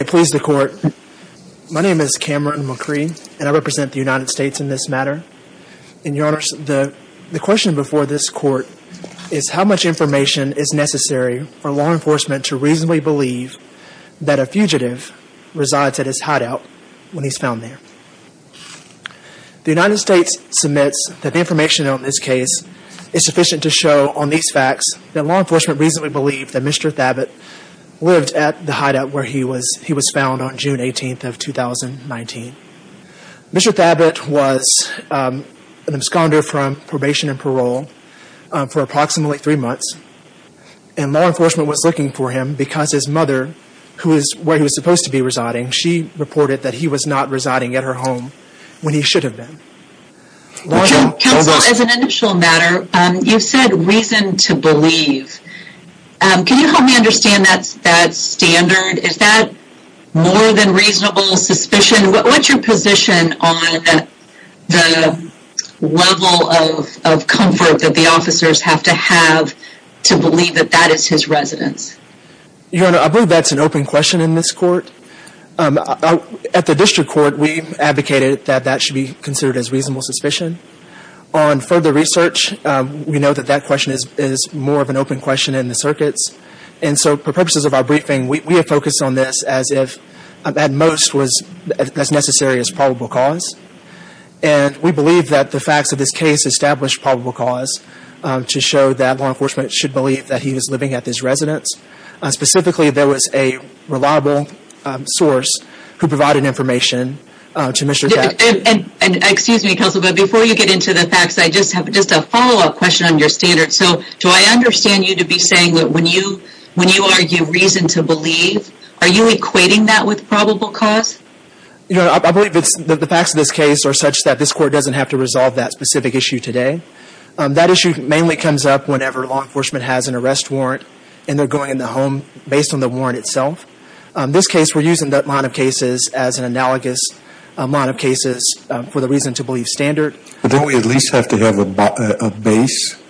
I please the court. My name is Cameron McCree and I represent the United States in this matter. And your honors, the question before this court is how much information is necessary for law enforcement to reasonably believe that a fugitive resides at his hideout when he's found there. The United States submits that the information on this case is sufficient to show on these facts that law enforcement reasonably believed that Mr. Thabit lived at the hideout where he was found on June 18th of 2019. Mr. Thabit was an absconder from probation and parole for approximately three months. And law enforcement was looking for him because his mother, who is where he was supposed to be residing, she reported that he was not residing at her home when he should have been. Your Honor, counsel, as an initial matter, you said reason to believe. Can you help me understand that standard? Is that more than reasonable suspicion? What's your position on the level of comfort that the officers have to have to believe that that is his residence? Your Honor, I believe that's an open question in this court. At the district court, we advocated that that should be considered as reasonable suspicion. On further research, we know that that question is more of an open question in the circuits. And so for purposes of our briefing, we have focused on this as if at most was as necessary as probable cause. And we believe that the facts of this case establish probable cause to show that law enforcement should believe that he is living at this residence. Specifically, there was a reliable source who provided information to Mr. Kapsch. Excuse me, counsel, but before you get into the facts, I just have a follow-up question on your standard. So do I understand you to be saying that when you argue reason to believe, are you equating that with probable cause? Your Honor, I believe that the facts of this case are such that this court doesn't have to resolve that specific issue today. That issue mainly comes up whenever law enforcement has an arrest warrant and they're going in the home based on the warrant itself. This case, we're using that line of cases as an analogous line of cases for the reason to believe standard. But don't we at least have to have a base?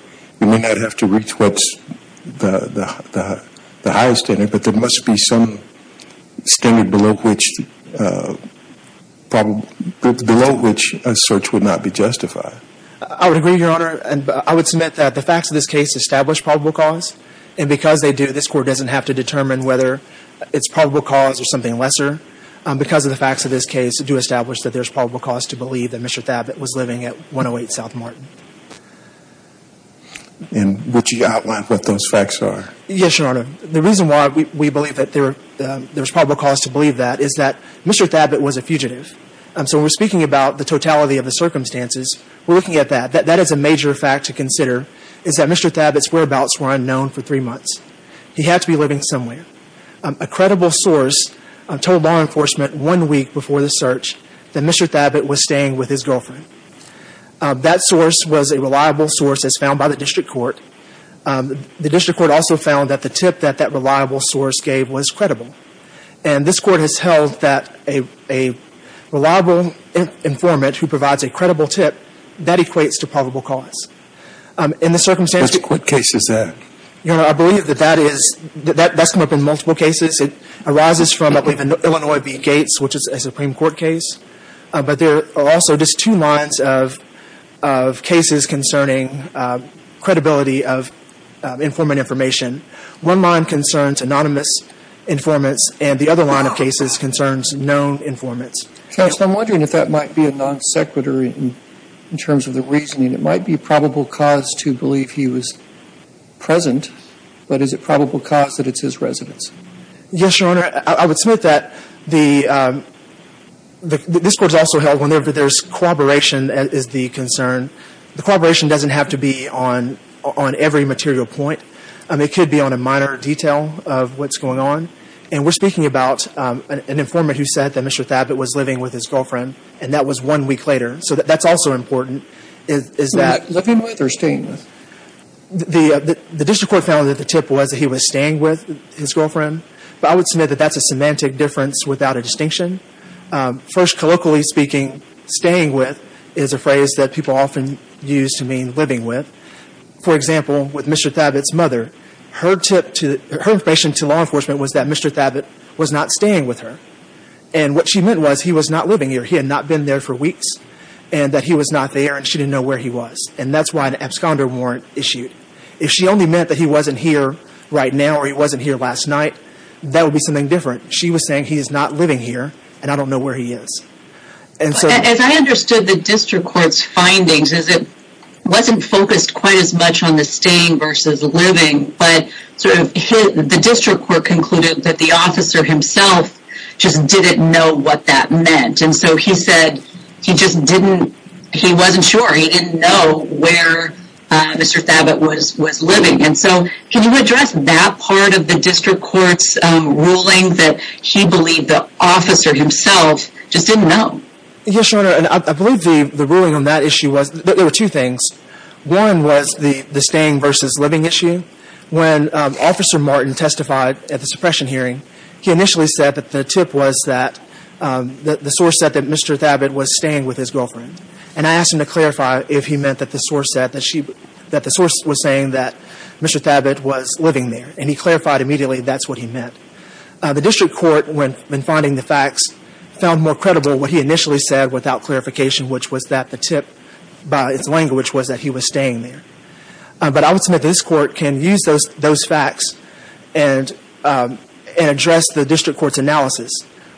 We may not have to reach what's the highest standard, but there must be some standard below which a search would not be justified. I would agree, Your Honor. I would submit that the facts of this case establish probable cause. And because they do, this court doesn't have to determine whether it's probable cause or something lesser. Because of the facts of this case do establish that there's probable cause to believe that Mr. Thabit was living at 108 South Martin. And would you outline what those facts are? Yes, Your Honor. The reason why we believe that there's probable cause to believe that is that Mr. Thabit was a fugitive. So when we're speaking about the totality of the circumstances, we're looking at that. That is a major fact to consider is that Mr. Thabit's whereabouts were unknown for three months. He had to be living somewhere. A credible source told law enforcement one week before the search that Mr. Thabit was staying with his girlfriend. That source was a reliable source as found by the district court. The district court also found that the tip that that reliable source gave was credible. And this court has held that a reliable informant who provides a credible tip, that equates to probable cause. In the circumstances What case is that? Your Honor, I believe that that is, that's come up in multiple cases. It arises from, I believe, an Illinois v. Gates, which is a Supreme Court case. But there are also just two lines of cases concerning credibility of informant information. One line concerns anonymous informants, and the other line of cases concerns known informants. So I'm wondering if that might be a non sequitur in terms of the reasoning. It might be probable cause to believe he was present, but is it probable cause that it's his residence? Yes, Your Honor. I would submit that the, this court has also held whenever there's corroboration is the concern. The corroboration doesn't have to be on every material point. It could be on a minor detail of what's going on. And we're speaking about an informant who said that Mr. Thabit was living with his girlfriend, and that was one week later. So that's also important, is that... Living with or staying with? The district court found that the tip was that he was staying with his girlfriend. But I would submit that that's a semantic difference without a distinction. First, colloquially speaking, staying with is a phrase that people often use to mean living with. For example, with Mr. Thabit's mother, her tip to, her information to law enforcement was that Mr. Thabit was not staying with her. And what she meant was he was not living here. He had not been there for weeks, and that he was not there, and she didn't know where he was. And that's why the absconder warrant issued. If she only meant that he wasn't here right now or he wasn't here last night, that would be something different. She was saying he is not living here, and I don't know where he is. And so... As I understood the district court's findings, is it wasn't focused quite as much on the staying versus the living, but sort of the district court concluded that the officer himself just didn't know what that meant. And so he said he just didn't, he wasn't sure. He didn't know where Mr. Thabit was living. And so can you address that part of the district court's ruling that he believed the officer himself just didn't know? Yes, Your Honor. I believe the ruling on that issue was, there were two things. One was the staying versus living issue. When Officer Martin testified at the suppression hearing, he initially said that the tip was that, the source said that Mr. Thabit was staying with his girlfriend. And I asked him to clarify if he meant that the source said that she, that the source was saying that Mr. Thabit was living there. And he clarified immediately that's what he meant. The district court, when finding the facts, found more credible what he initially said without clarification, which was that the tip, by its language, was that he was staying there. But I would submit this court can use those facts and address the district court's analysis.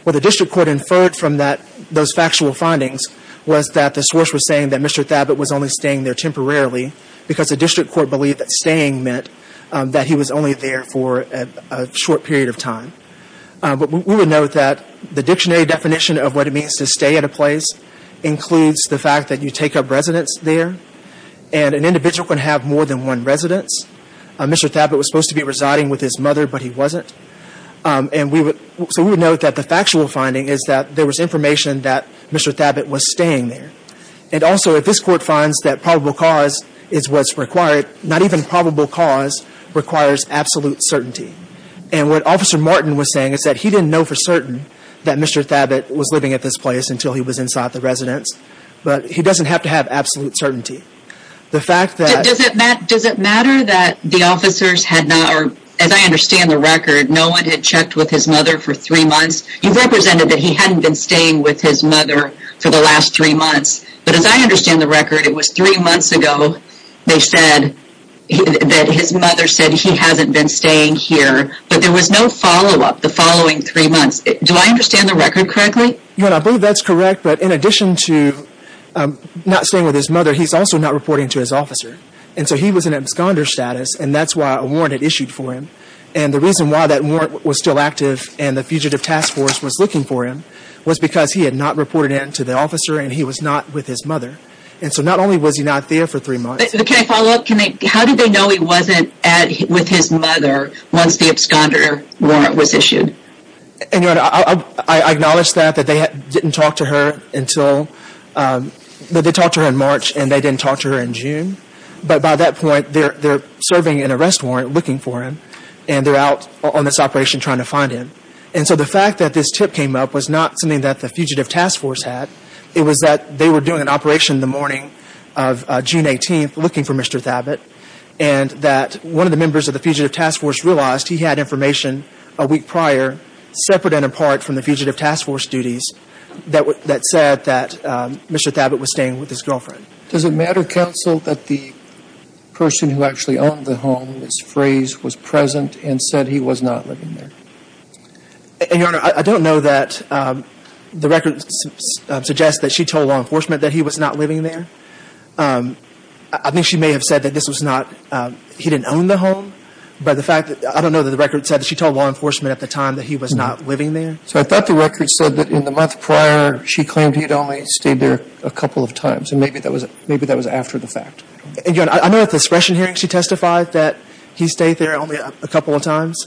What the district court inferred from that, those factual findings, was that the source was saying that Mr. Thabit was only staying there temporarily because the district court believed that staying meant that he was only there for a short period of time. But we would note that the dictionary definition of what it means to stay at a place includes the fact that you take up residence there, and an individual can have more than one residence. Mr. Thabit was supposed to be residing with his mother, but he wasn't. And we would, so we would note that the factual finding is that there was information that Mr. Thabit was staying there. And also, if this court finds that probable cause is what's required, not even probable cause requires absolute certainty. And what Officer Martin was saying is that he didn't know for certain that Mr. Thabit was living at this place until he was inside the residence. But he doesn't have to have absolute certainty. The fact that... Does it matter that the officers had not, or as I understand the record, no one had checked with his mother for three months? You've represented that he hadn't been staying with his mother for the last three months. But as I understand the record, it was three months ago they said that his mother said he hasn't been staying here, but there was no follow-up the following three months. Do I understand the record correctly? I believe that's correct, but in addition to not staying with his mother, he's also not reporting to his officer. And so he was in absconder status, and that's why a warrant had issued for him. And the reason why that warrant was still active and the Fugitive Task Force was looking for him was because he had not reported it to the officer and he was not with his mother. And so not only was he not there for three months... Can I follow up? How did they know he wasn't with his mother once the absconder warrant was issued? I acknowledge that they didn't talk to her in March and they didn't talk to her in June, but by that point they're serving an arrest warrant looking for him and they're out on this operation trying to find him. And so the fact that this tip came up was not something that the Fugitive Task Force had. It was that they were doing an operation the morning of June 18th looking for Mr. Thabit and that one of the members of the Fugitive Task Force realized he had information a week prior, separate and apart from the Fugitive Task Force duties, that said that Mr. Thabit was staying with his girlfriend. Does it matter, counsel, that the person who actually owned the home, Ms. Fraze, was present and said he was not living there? Your Honor, I don't know that... The records suggest that she told law enforcement that he was not living there. I think she may have said that this was not... He didn't own the home. I don't know that the record said that she told law enforcement at the time that he was not living there. So I thought the record said that in the month prior she claimed he had only stayed there a couple of times and maybe that was after the fact. Your Honor, I know at the discretion hearing she testified that he stayed there only a couple of times,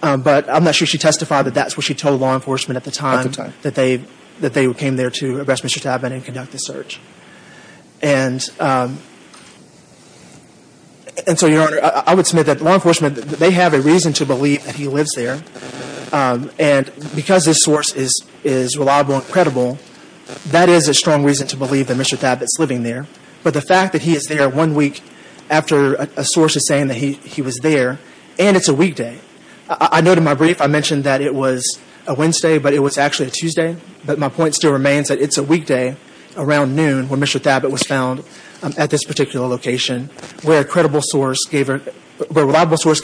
but I'm not sure she testified that that's what she told law enforcement at the time that they came there to arrest Mr. Thabit and conduct the search. And so, Your Honor, I would submit that law enforcement, they have a reason to believe that he lives there and because this source is reliable and credible, that is a strong reason to believe that Mr. Thabit's living there. But the fact that he is there one week after a source is saying that he was there and it's a weekday. I noted in my brief, I mentioned that it was a Wednesday, but it was actually a Tuesday. But my point still remains that it's a weekday around noon when Mr. Thabit was found at this particular location where a reliable source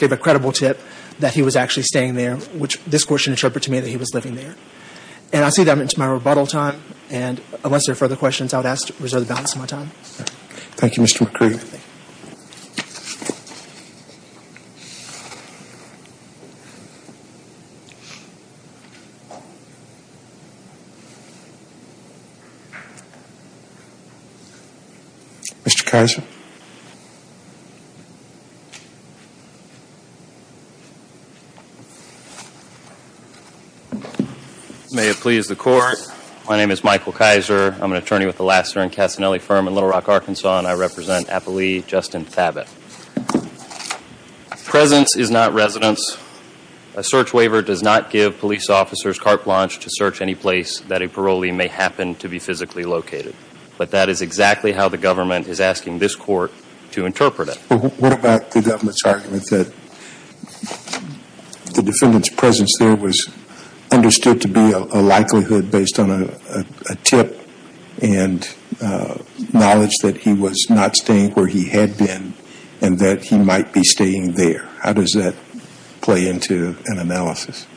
gave a credible tip that he was actually staying there, which this court should interpret to me that he was living there. And I see that I'm into my rebuttal time, and unless there are further questions, I would ask to reserve the balance of my time. Thank you, Mr. McCree. Mr. Kizer. May it please the Court. My name is Michael Kizer. I'm an attorney with the Lassiter and Cassinelli firm in Little Rock, Arkansas, and I represent Apolli Justin Thabit. Presence is not residence. A search waiver does not give police officers carte blanche to search any place that a parolee may happen to be physically located. But that is exactly how the government is asking this court to interpret it. What about the government's argument that the defendant's presence there was understood to be a likelihood based on a tip and knowledge that he was not staying where he had been and that he might be staying there? How does that play into an analysis?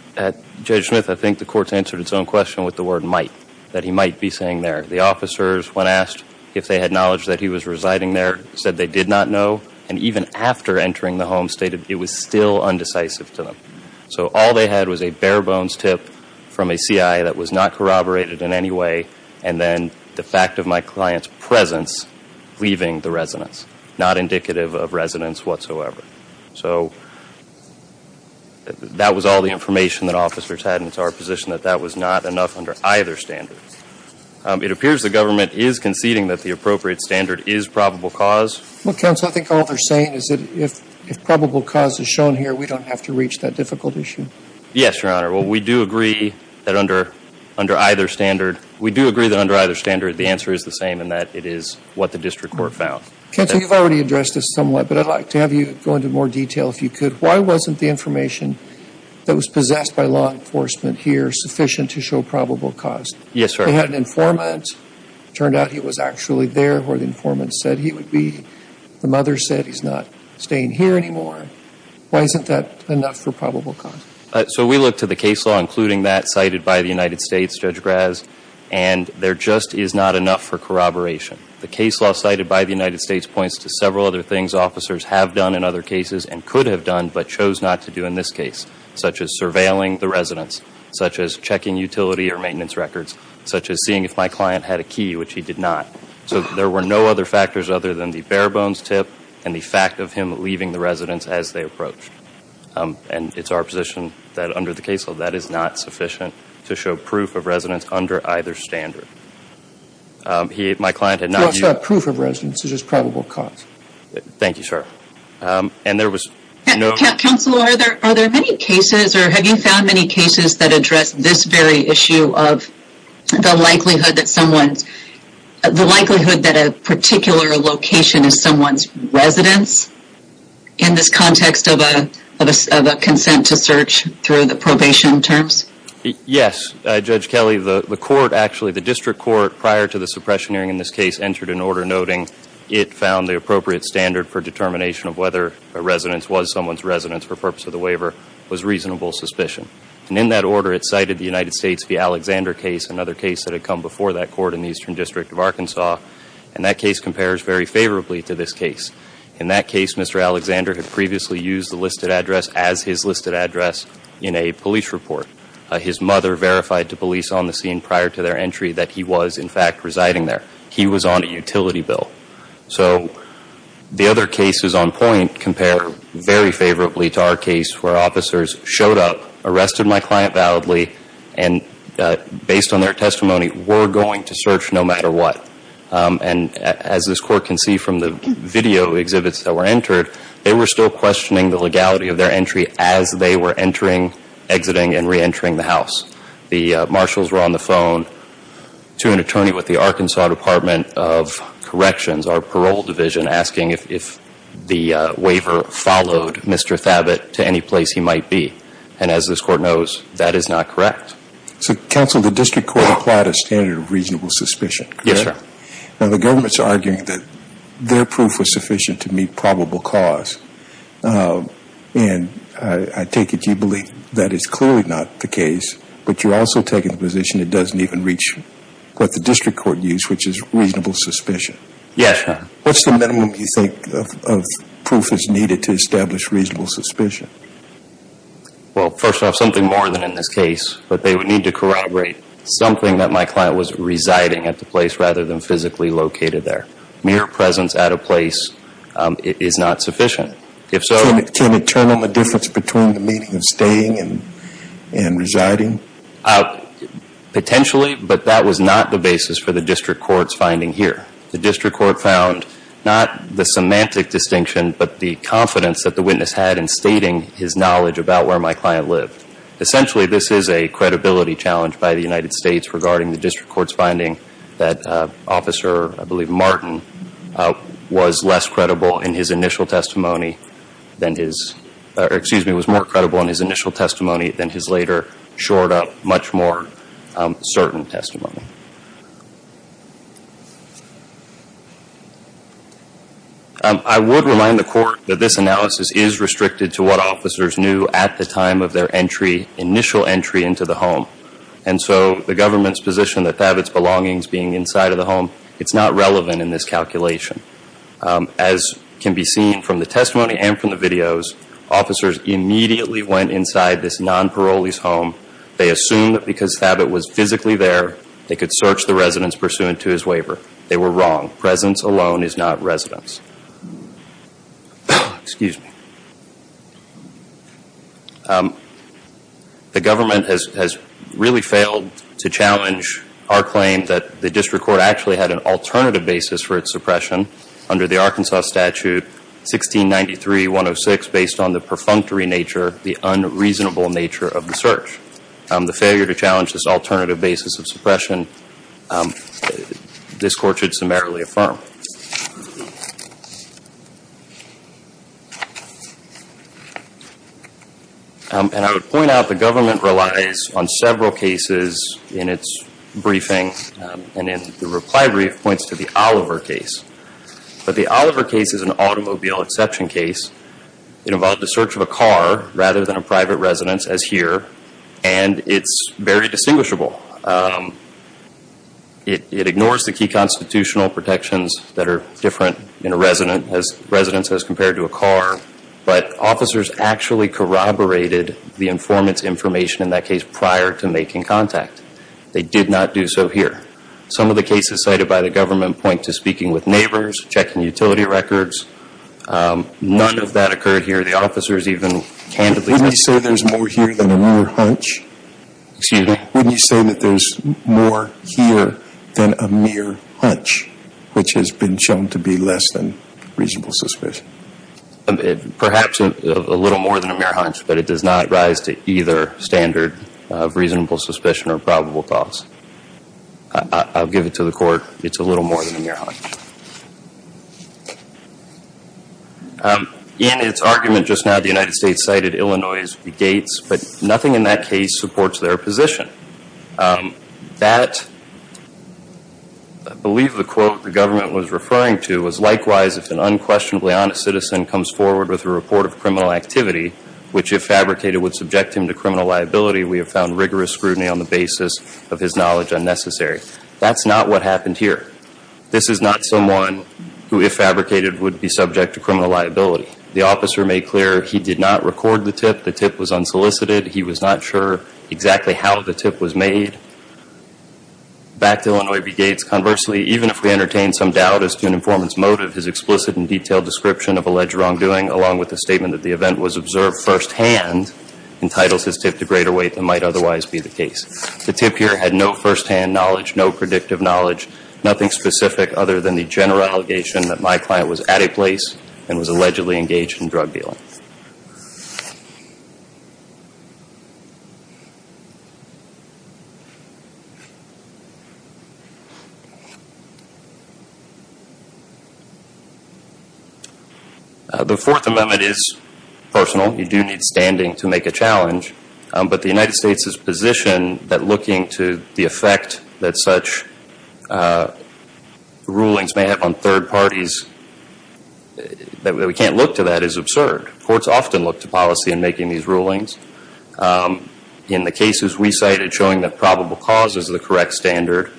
Judge Smith, I think the court's answered its own question with the word might, that he might be staying there. The officers, when asked if they had knowledge that he was residing there, said they did not know. And even after entering the home, stated it was still undecisive to them. So all they had was a bare bones tip from a CI that was not corroborated in any way and then the fact of my client's presence leaving the residence. Not indicative of residence whatsoever. So that was all the information that officers had and it's our position that that was not enough under either standard. It appears the government is conceding that the appropriate standard is probable cause. Well, counsel, I think all they're saying is that if probable cause is shown here, we don't have to reach that difficult issue. Yes, Your Honor. Well, we do agree that under either standard, we do agree that under either standard, the answer is the same and that it is what the district court found. Counsel, you've already addressed this somewhat, but I'd like to have you go into more detail if you could. Why wasn't the information that was possessed by law enforcement here sufficient to show probable cause? Yes, sir. They had an informant. It turned out he was actually there where the informant said he would be. The mother said he's not staying here anymore. Why isn't that enough for probable cause? So we looked at the case law including that cited by the United States, Judge Graz, and there just is not enough for corroboration. The case law cited by the United States points to several other things officers have done in other cases and could have done but chose not to do in this case, such as surveilling the residence, such as checking utility or maintenance records, such as seeing if my client had a key, which he did not. So there were no other factors other than the bare bones tip and the fact of him leaving the residence as they approached. And it's our position that under the case law, that is not sufficient to show proof of residence under either standard. My client had not used... Proof of residence is just probable cause. Thank you, sir. And there was no... Counselor, are there many cases or have you found many cases that address this very issue of the likelihood that someone's... The likelihood that a particular location is someone's residence in this context of a consent to search through the probation terms? Yes. Judge Kelly, the court actually, the district court prior to the suppression hearing in this case entered an order noting it found the appropriate standard for determination of whether a residence was someone's residence for purpose of the waiver was reasonable suspicion. And in that order, it cited the United States v. Alexander case, another case that had come before that court in the Eastern District of Arkansas. And that case compares very favorably to this case. In that case, Mr. Alexander had previously used the listed address as his listed address in a police report. His mother verified to police on the scene prior to their entry that he was, in fact, residing there. He was on a utility bill. So the other cases on point compare very favorably to our case where officers showed up, arrested my client validly, and based on their testimony, were going to search no matter what. And as this court can see from the video exhibits that were entered, they were still questioning the legality of their entry as they were entering, exiting, and reentering the house. The marshals were on the phone to an attorney with the Arkansas Department of Corrections, our parole division, asking if the waiver followed Mr. Thabit to any place he might be. And as this court knows, that is not correct. So counsel, the district court applied a standard of reasonable suspicion, correct? Yes, sir. Now the government's arguing that their proof was sufficient to meet probable cause. And I take it you believe that is clearly not the case, but you're also taking the position it doesn't even reach what the district court used, which is reasonable suspicion. Yes, sir. What's the minimum you think of proof that's needed to establish reasonable suspicion? Well, first off, something more than in this case. But they would need to corroborate something that my client was residing at the place rather than physically located there. Mere presence at a place is not sufficient. If so... Can it tell them the difference between the meeting and staying and residing? Potentially, but that was not the basis for the district court's finding here. The district court found not the semantic distinction, but the confidence that the witness had in stating his knowledge about where my client lived. Essentially, this is a credibility challenge by the United States regarding the district court's finding that Officer, I believe Martin, was less credible in his initial testimony than his... Excuse me, was more credible in his initial testimony than his later, shored up, much more certain testimony. I would remind the court that this analysis is restricted to what officers knew at the time of their initial entry into the home. And so, the government's position that Thabit's belongings being inside of the home, it's not relevant in this calculation. As can be seen from the testimony and from the videos, officers immediately went inside this non-parolee's home. They assumed that because Thabit was physically there, they could search the residence pursuant to his waiver. They were wrong. Presence alone is not residence. Excuse me. The government has really failed to challenge our claim that the district court actually had an alternative basis for its suppression under the Arkansas statute 1693-106 based on the perfunctory nature, the unreasonable nature of the search. The failure to challenge this alternative basis of suppression, this court should summarily affirm. And I would point out the government relies on several cases in its briefing and in the reply brief points to the Oliver case. But the Oliver case is an automobile exception case. It involved the search of a car rather than a private residence as here. And it's very distinguishable. It ignores the key constitutional protections that are different in a residence as compared to a car. But officers actually corroborated the informant's information in that case prior to making contact. They did not do so here. Some of the cases cited by the government point to speaking with neighbors, checking utility records. None of that occurred here. The officers even candidly said there's more here than a mere hunch. Excuse me. Wouldn't you say that there's more here than a mere hunch, which has been shown to be less than reasonable suspicion? Perhaps a little more than a mere hunch, but it does not rise to either standard of reasonable suspicion or probable cause. I'll give it to the court. It's a little more than a mere hunch. In its argument just now, the United States cited Illinois as the gates, but nothing in that case supports their position. That I believe the quote the government was referring to was, likewise, if an unquestionably honest citizen comes forward with a report of criminal activity, which if fabricated would subject him to criminal liability, we have found rigorous scrutiny on the basis of his knowledge unnecessary. That's not what happened here. This is not someone who, if fabricated, would be subject to criminal liability. The officer made clear he did not record the tip. The tip was unsolicited. He was not sure exactly how the tip was made. Back to Illinois v. Gates, conversely, even if we entertain some doubt as to an informant's motive, his explicit and detailed description of alleged wrongdoing, along with the statement that the event was observed firsthand, entitles his tip to greater weight than might otherwise be the case. The tip here had no firsthand knowledge, no predictive knowledge, nothing specific other than the general allegation that my client was at a place and was allegedly engaged in drug dealing. The Fourth Amendment is personal. You do need standing to make a challenge. But the United States' position that looking to the effect that such rulings may have on courts often look to policy in making these rulings. In the cases we cited showing that probable cause is the correct standard,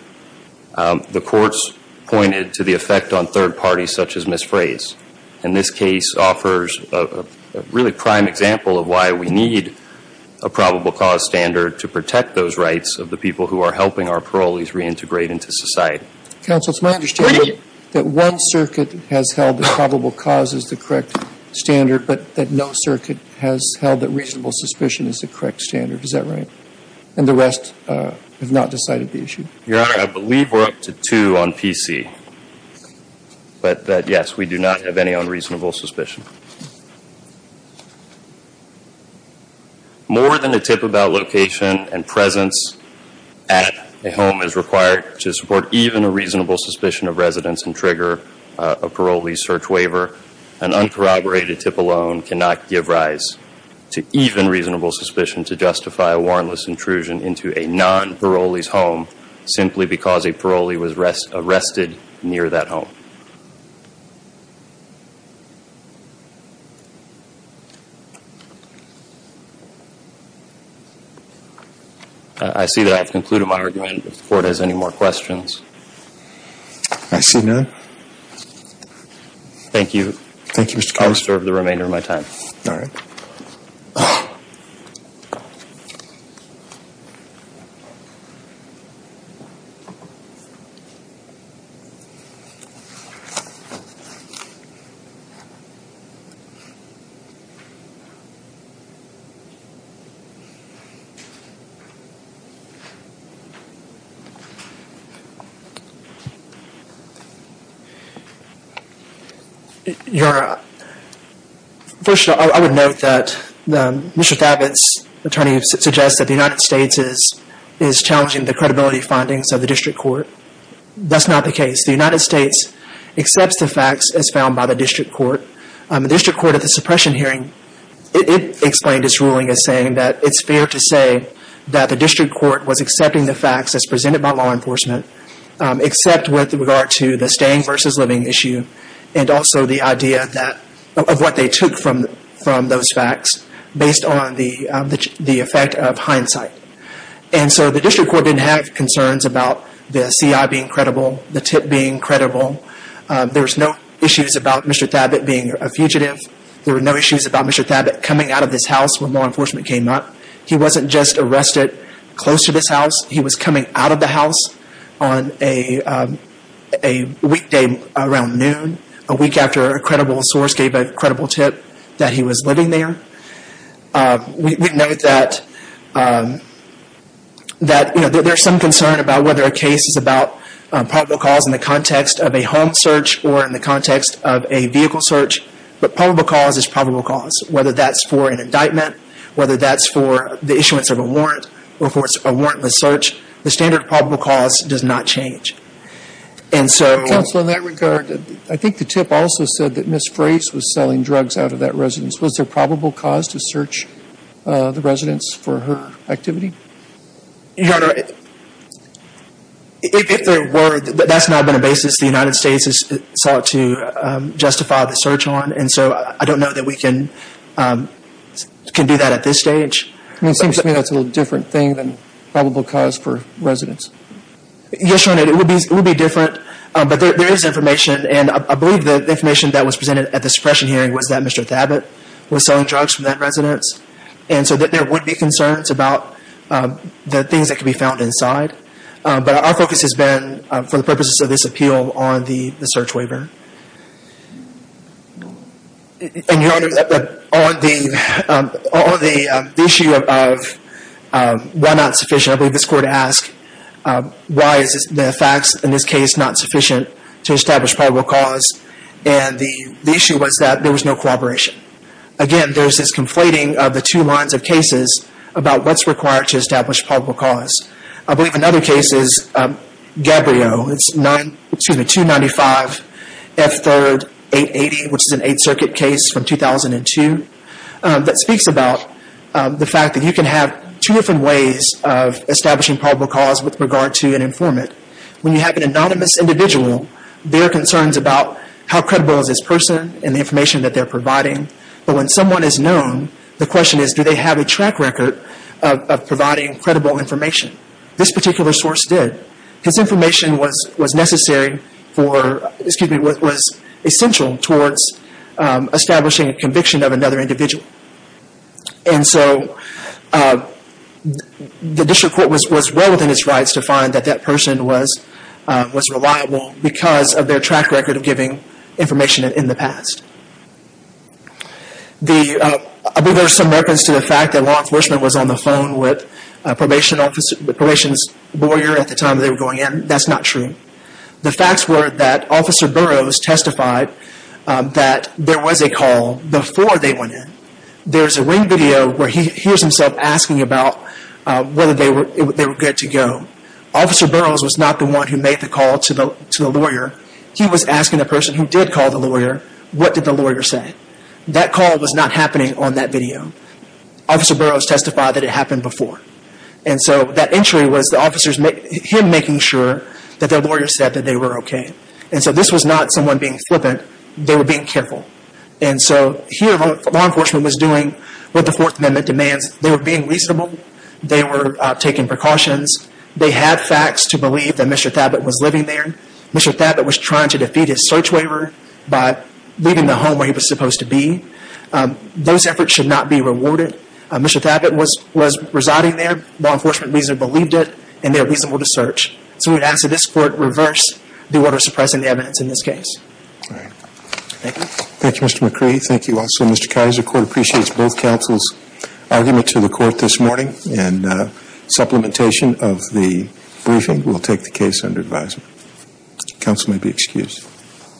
the courts pointed to the effect on third parties such as Ms. Frase. And this case offers a really prime example of why we need a probable cause standard to protect those rights of the people who are helping our parolees reintegrate into society. Counsel, it's my understanding that one circuit has held that probable cause is the correct standard, but that no circuit has held that reasonable suspicion is the correct standard. Is that right? And the rest have not decided the issue? Your Honor, I believe we're up to two on PC. But yes, we do not have any unreasonable suspicion. More than a tip about location and presence at a home is required to support even a reasonable suspicion of residence and trigger a parolee's search waiver. An uncorroborated tip alone cannot give rise to even reasonable suspicion to justify a warrantless intrusion into a non-parolee's home simply because a parolee was arrested near that home. I see that I have concluded my argument. If the Court has any more questions. I see none. Thank you. Thank you, Mr. Connolly. I'll reserve the remainder of my time. All right. It's fair to say that Mr. Thabit's attorney suggests that the United States is challenging the credibility findings of the District Court. That's not the case. The United States accepts the facts as found by the District Court. The District Court at the suppression hearing, it explained its ruling as saying that it's fair to say that the District Court was accepting the facts as presented by law enforcement, except with regard to the staying versus living issue and also the idea of what they took from those facts based on the effect of hindsight. And so the District Court didn't have concerns about the CI being credible, the tip being credible. There were no issues about Mr. Thabit being a fugitive. There were no issues about Mr. Thabit coming out of this house when law enforcement came up. He wasn't just arrested close to this house. He was coming out of the house on a weekday around noon, a week after a credible source gave a credible tip that he was living there. We note that there's some concern about whether a case is about probable cause in the context of a home search or in the context of a vehicle search, but probable cause is probable cause. Whether that's for an indictment, whether that's for the issuance of a warrant or for a warrantless search, the standard of probable cause does not change. Counsel, in that regard, I think the tip also said that Ms. Frase was selling drugs out of that residence. Was there probable cause to search the residence for her activity? Your Honor, if there were, that's not been a basis the United States has sought to justify the search on, and so I don't know that we can do that at this stage. It seems to me that's a little different thing than probable cause for residence. Yes, Your Honor, it would be different, but there is information, and I believe the information that was presented at the suppression hearing was that Mr. Thabit was selling drugs from that residence, and so there would be concerns about the things that could be found inside, but our focus has been, for the purposes of this appeal, on the search waiver. Your Honor, on the issue of why not sufficient, I believe it's fair to ask why is the facts in this case not sufficient to establish probable cause, and the issue was that there was no cooperation. Again, there's this conflating of the two lines of cases about what's required to establish probable cause. I believe another case is 295F3 880, which is an Eighth Circuit case from 2002 that speaks about the fact that you can have two different ways of establishing probable cause with regard to an informant. When you have an anonymous individual, there are concerns about how credible is this person and the information that they're providing, but when someone is known, the question is do they have a track record of providing credible information? This particular source did, because information was essential towards establishing a conviction of another individual, and so the district court was well within its rights to find that that person was reliable because of their track record of giving information in the past. I believe there are some reference to the fact that law enforcement was on the phone with a probation lawyer at the time they were going in. That's not true. The facts were that Officer Burroughs testified that there was a call before they went in. There's a ring video where he hears himself asking about whether they were good to go. Officer Burroughs was not the one who made the call to the lawyer. He was asking the person who did call the lawyer, what did the lawyer say? That call was not happening on that video. Officer Burroughs testified that it happened before. That entry was him making sure that the lawyer said that they were okay. This was not someone being flippant. They were being careful. Here law enforcement was doing what the Fourth Amendment demands. They were being reasonable. They were taking precautions. They had facts to believe that Mr. Thabit was living there. Mr. Thabit was trying to defeat his search waiver by leaving the home where he was supposed to be. Those efforts should not be rewarded. Mr. Thabit was residing there, law enforcement reason to believe it, and they were reasonable to search. So we would ask that this Court reverse the order suppressing the evidence in this case. Thank you. Thank you Mr. McCree. Thank you also Mr. Kizer. The Court appreciates both counsel's argument to the Court this morning and supplementation of the briefing. We will take the case under advisory. Counsel may be excused.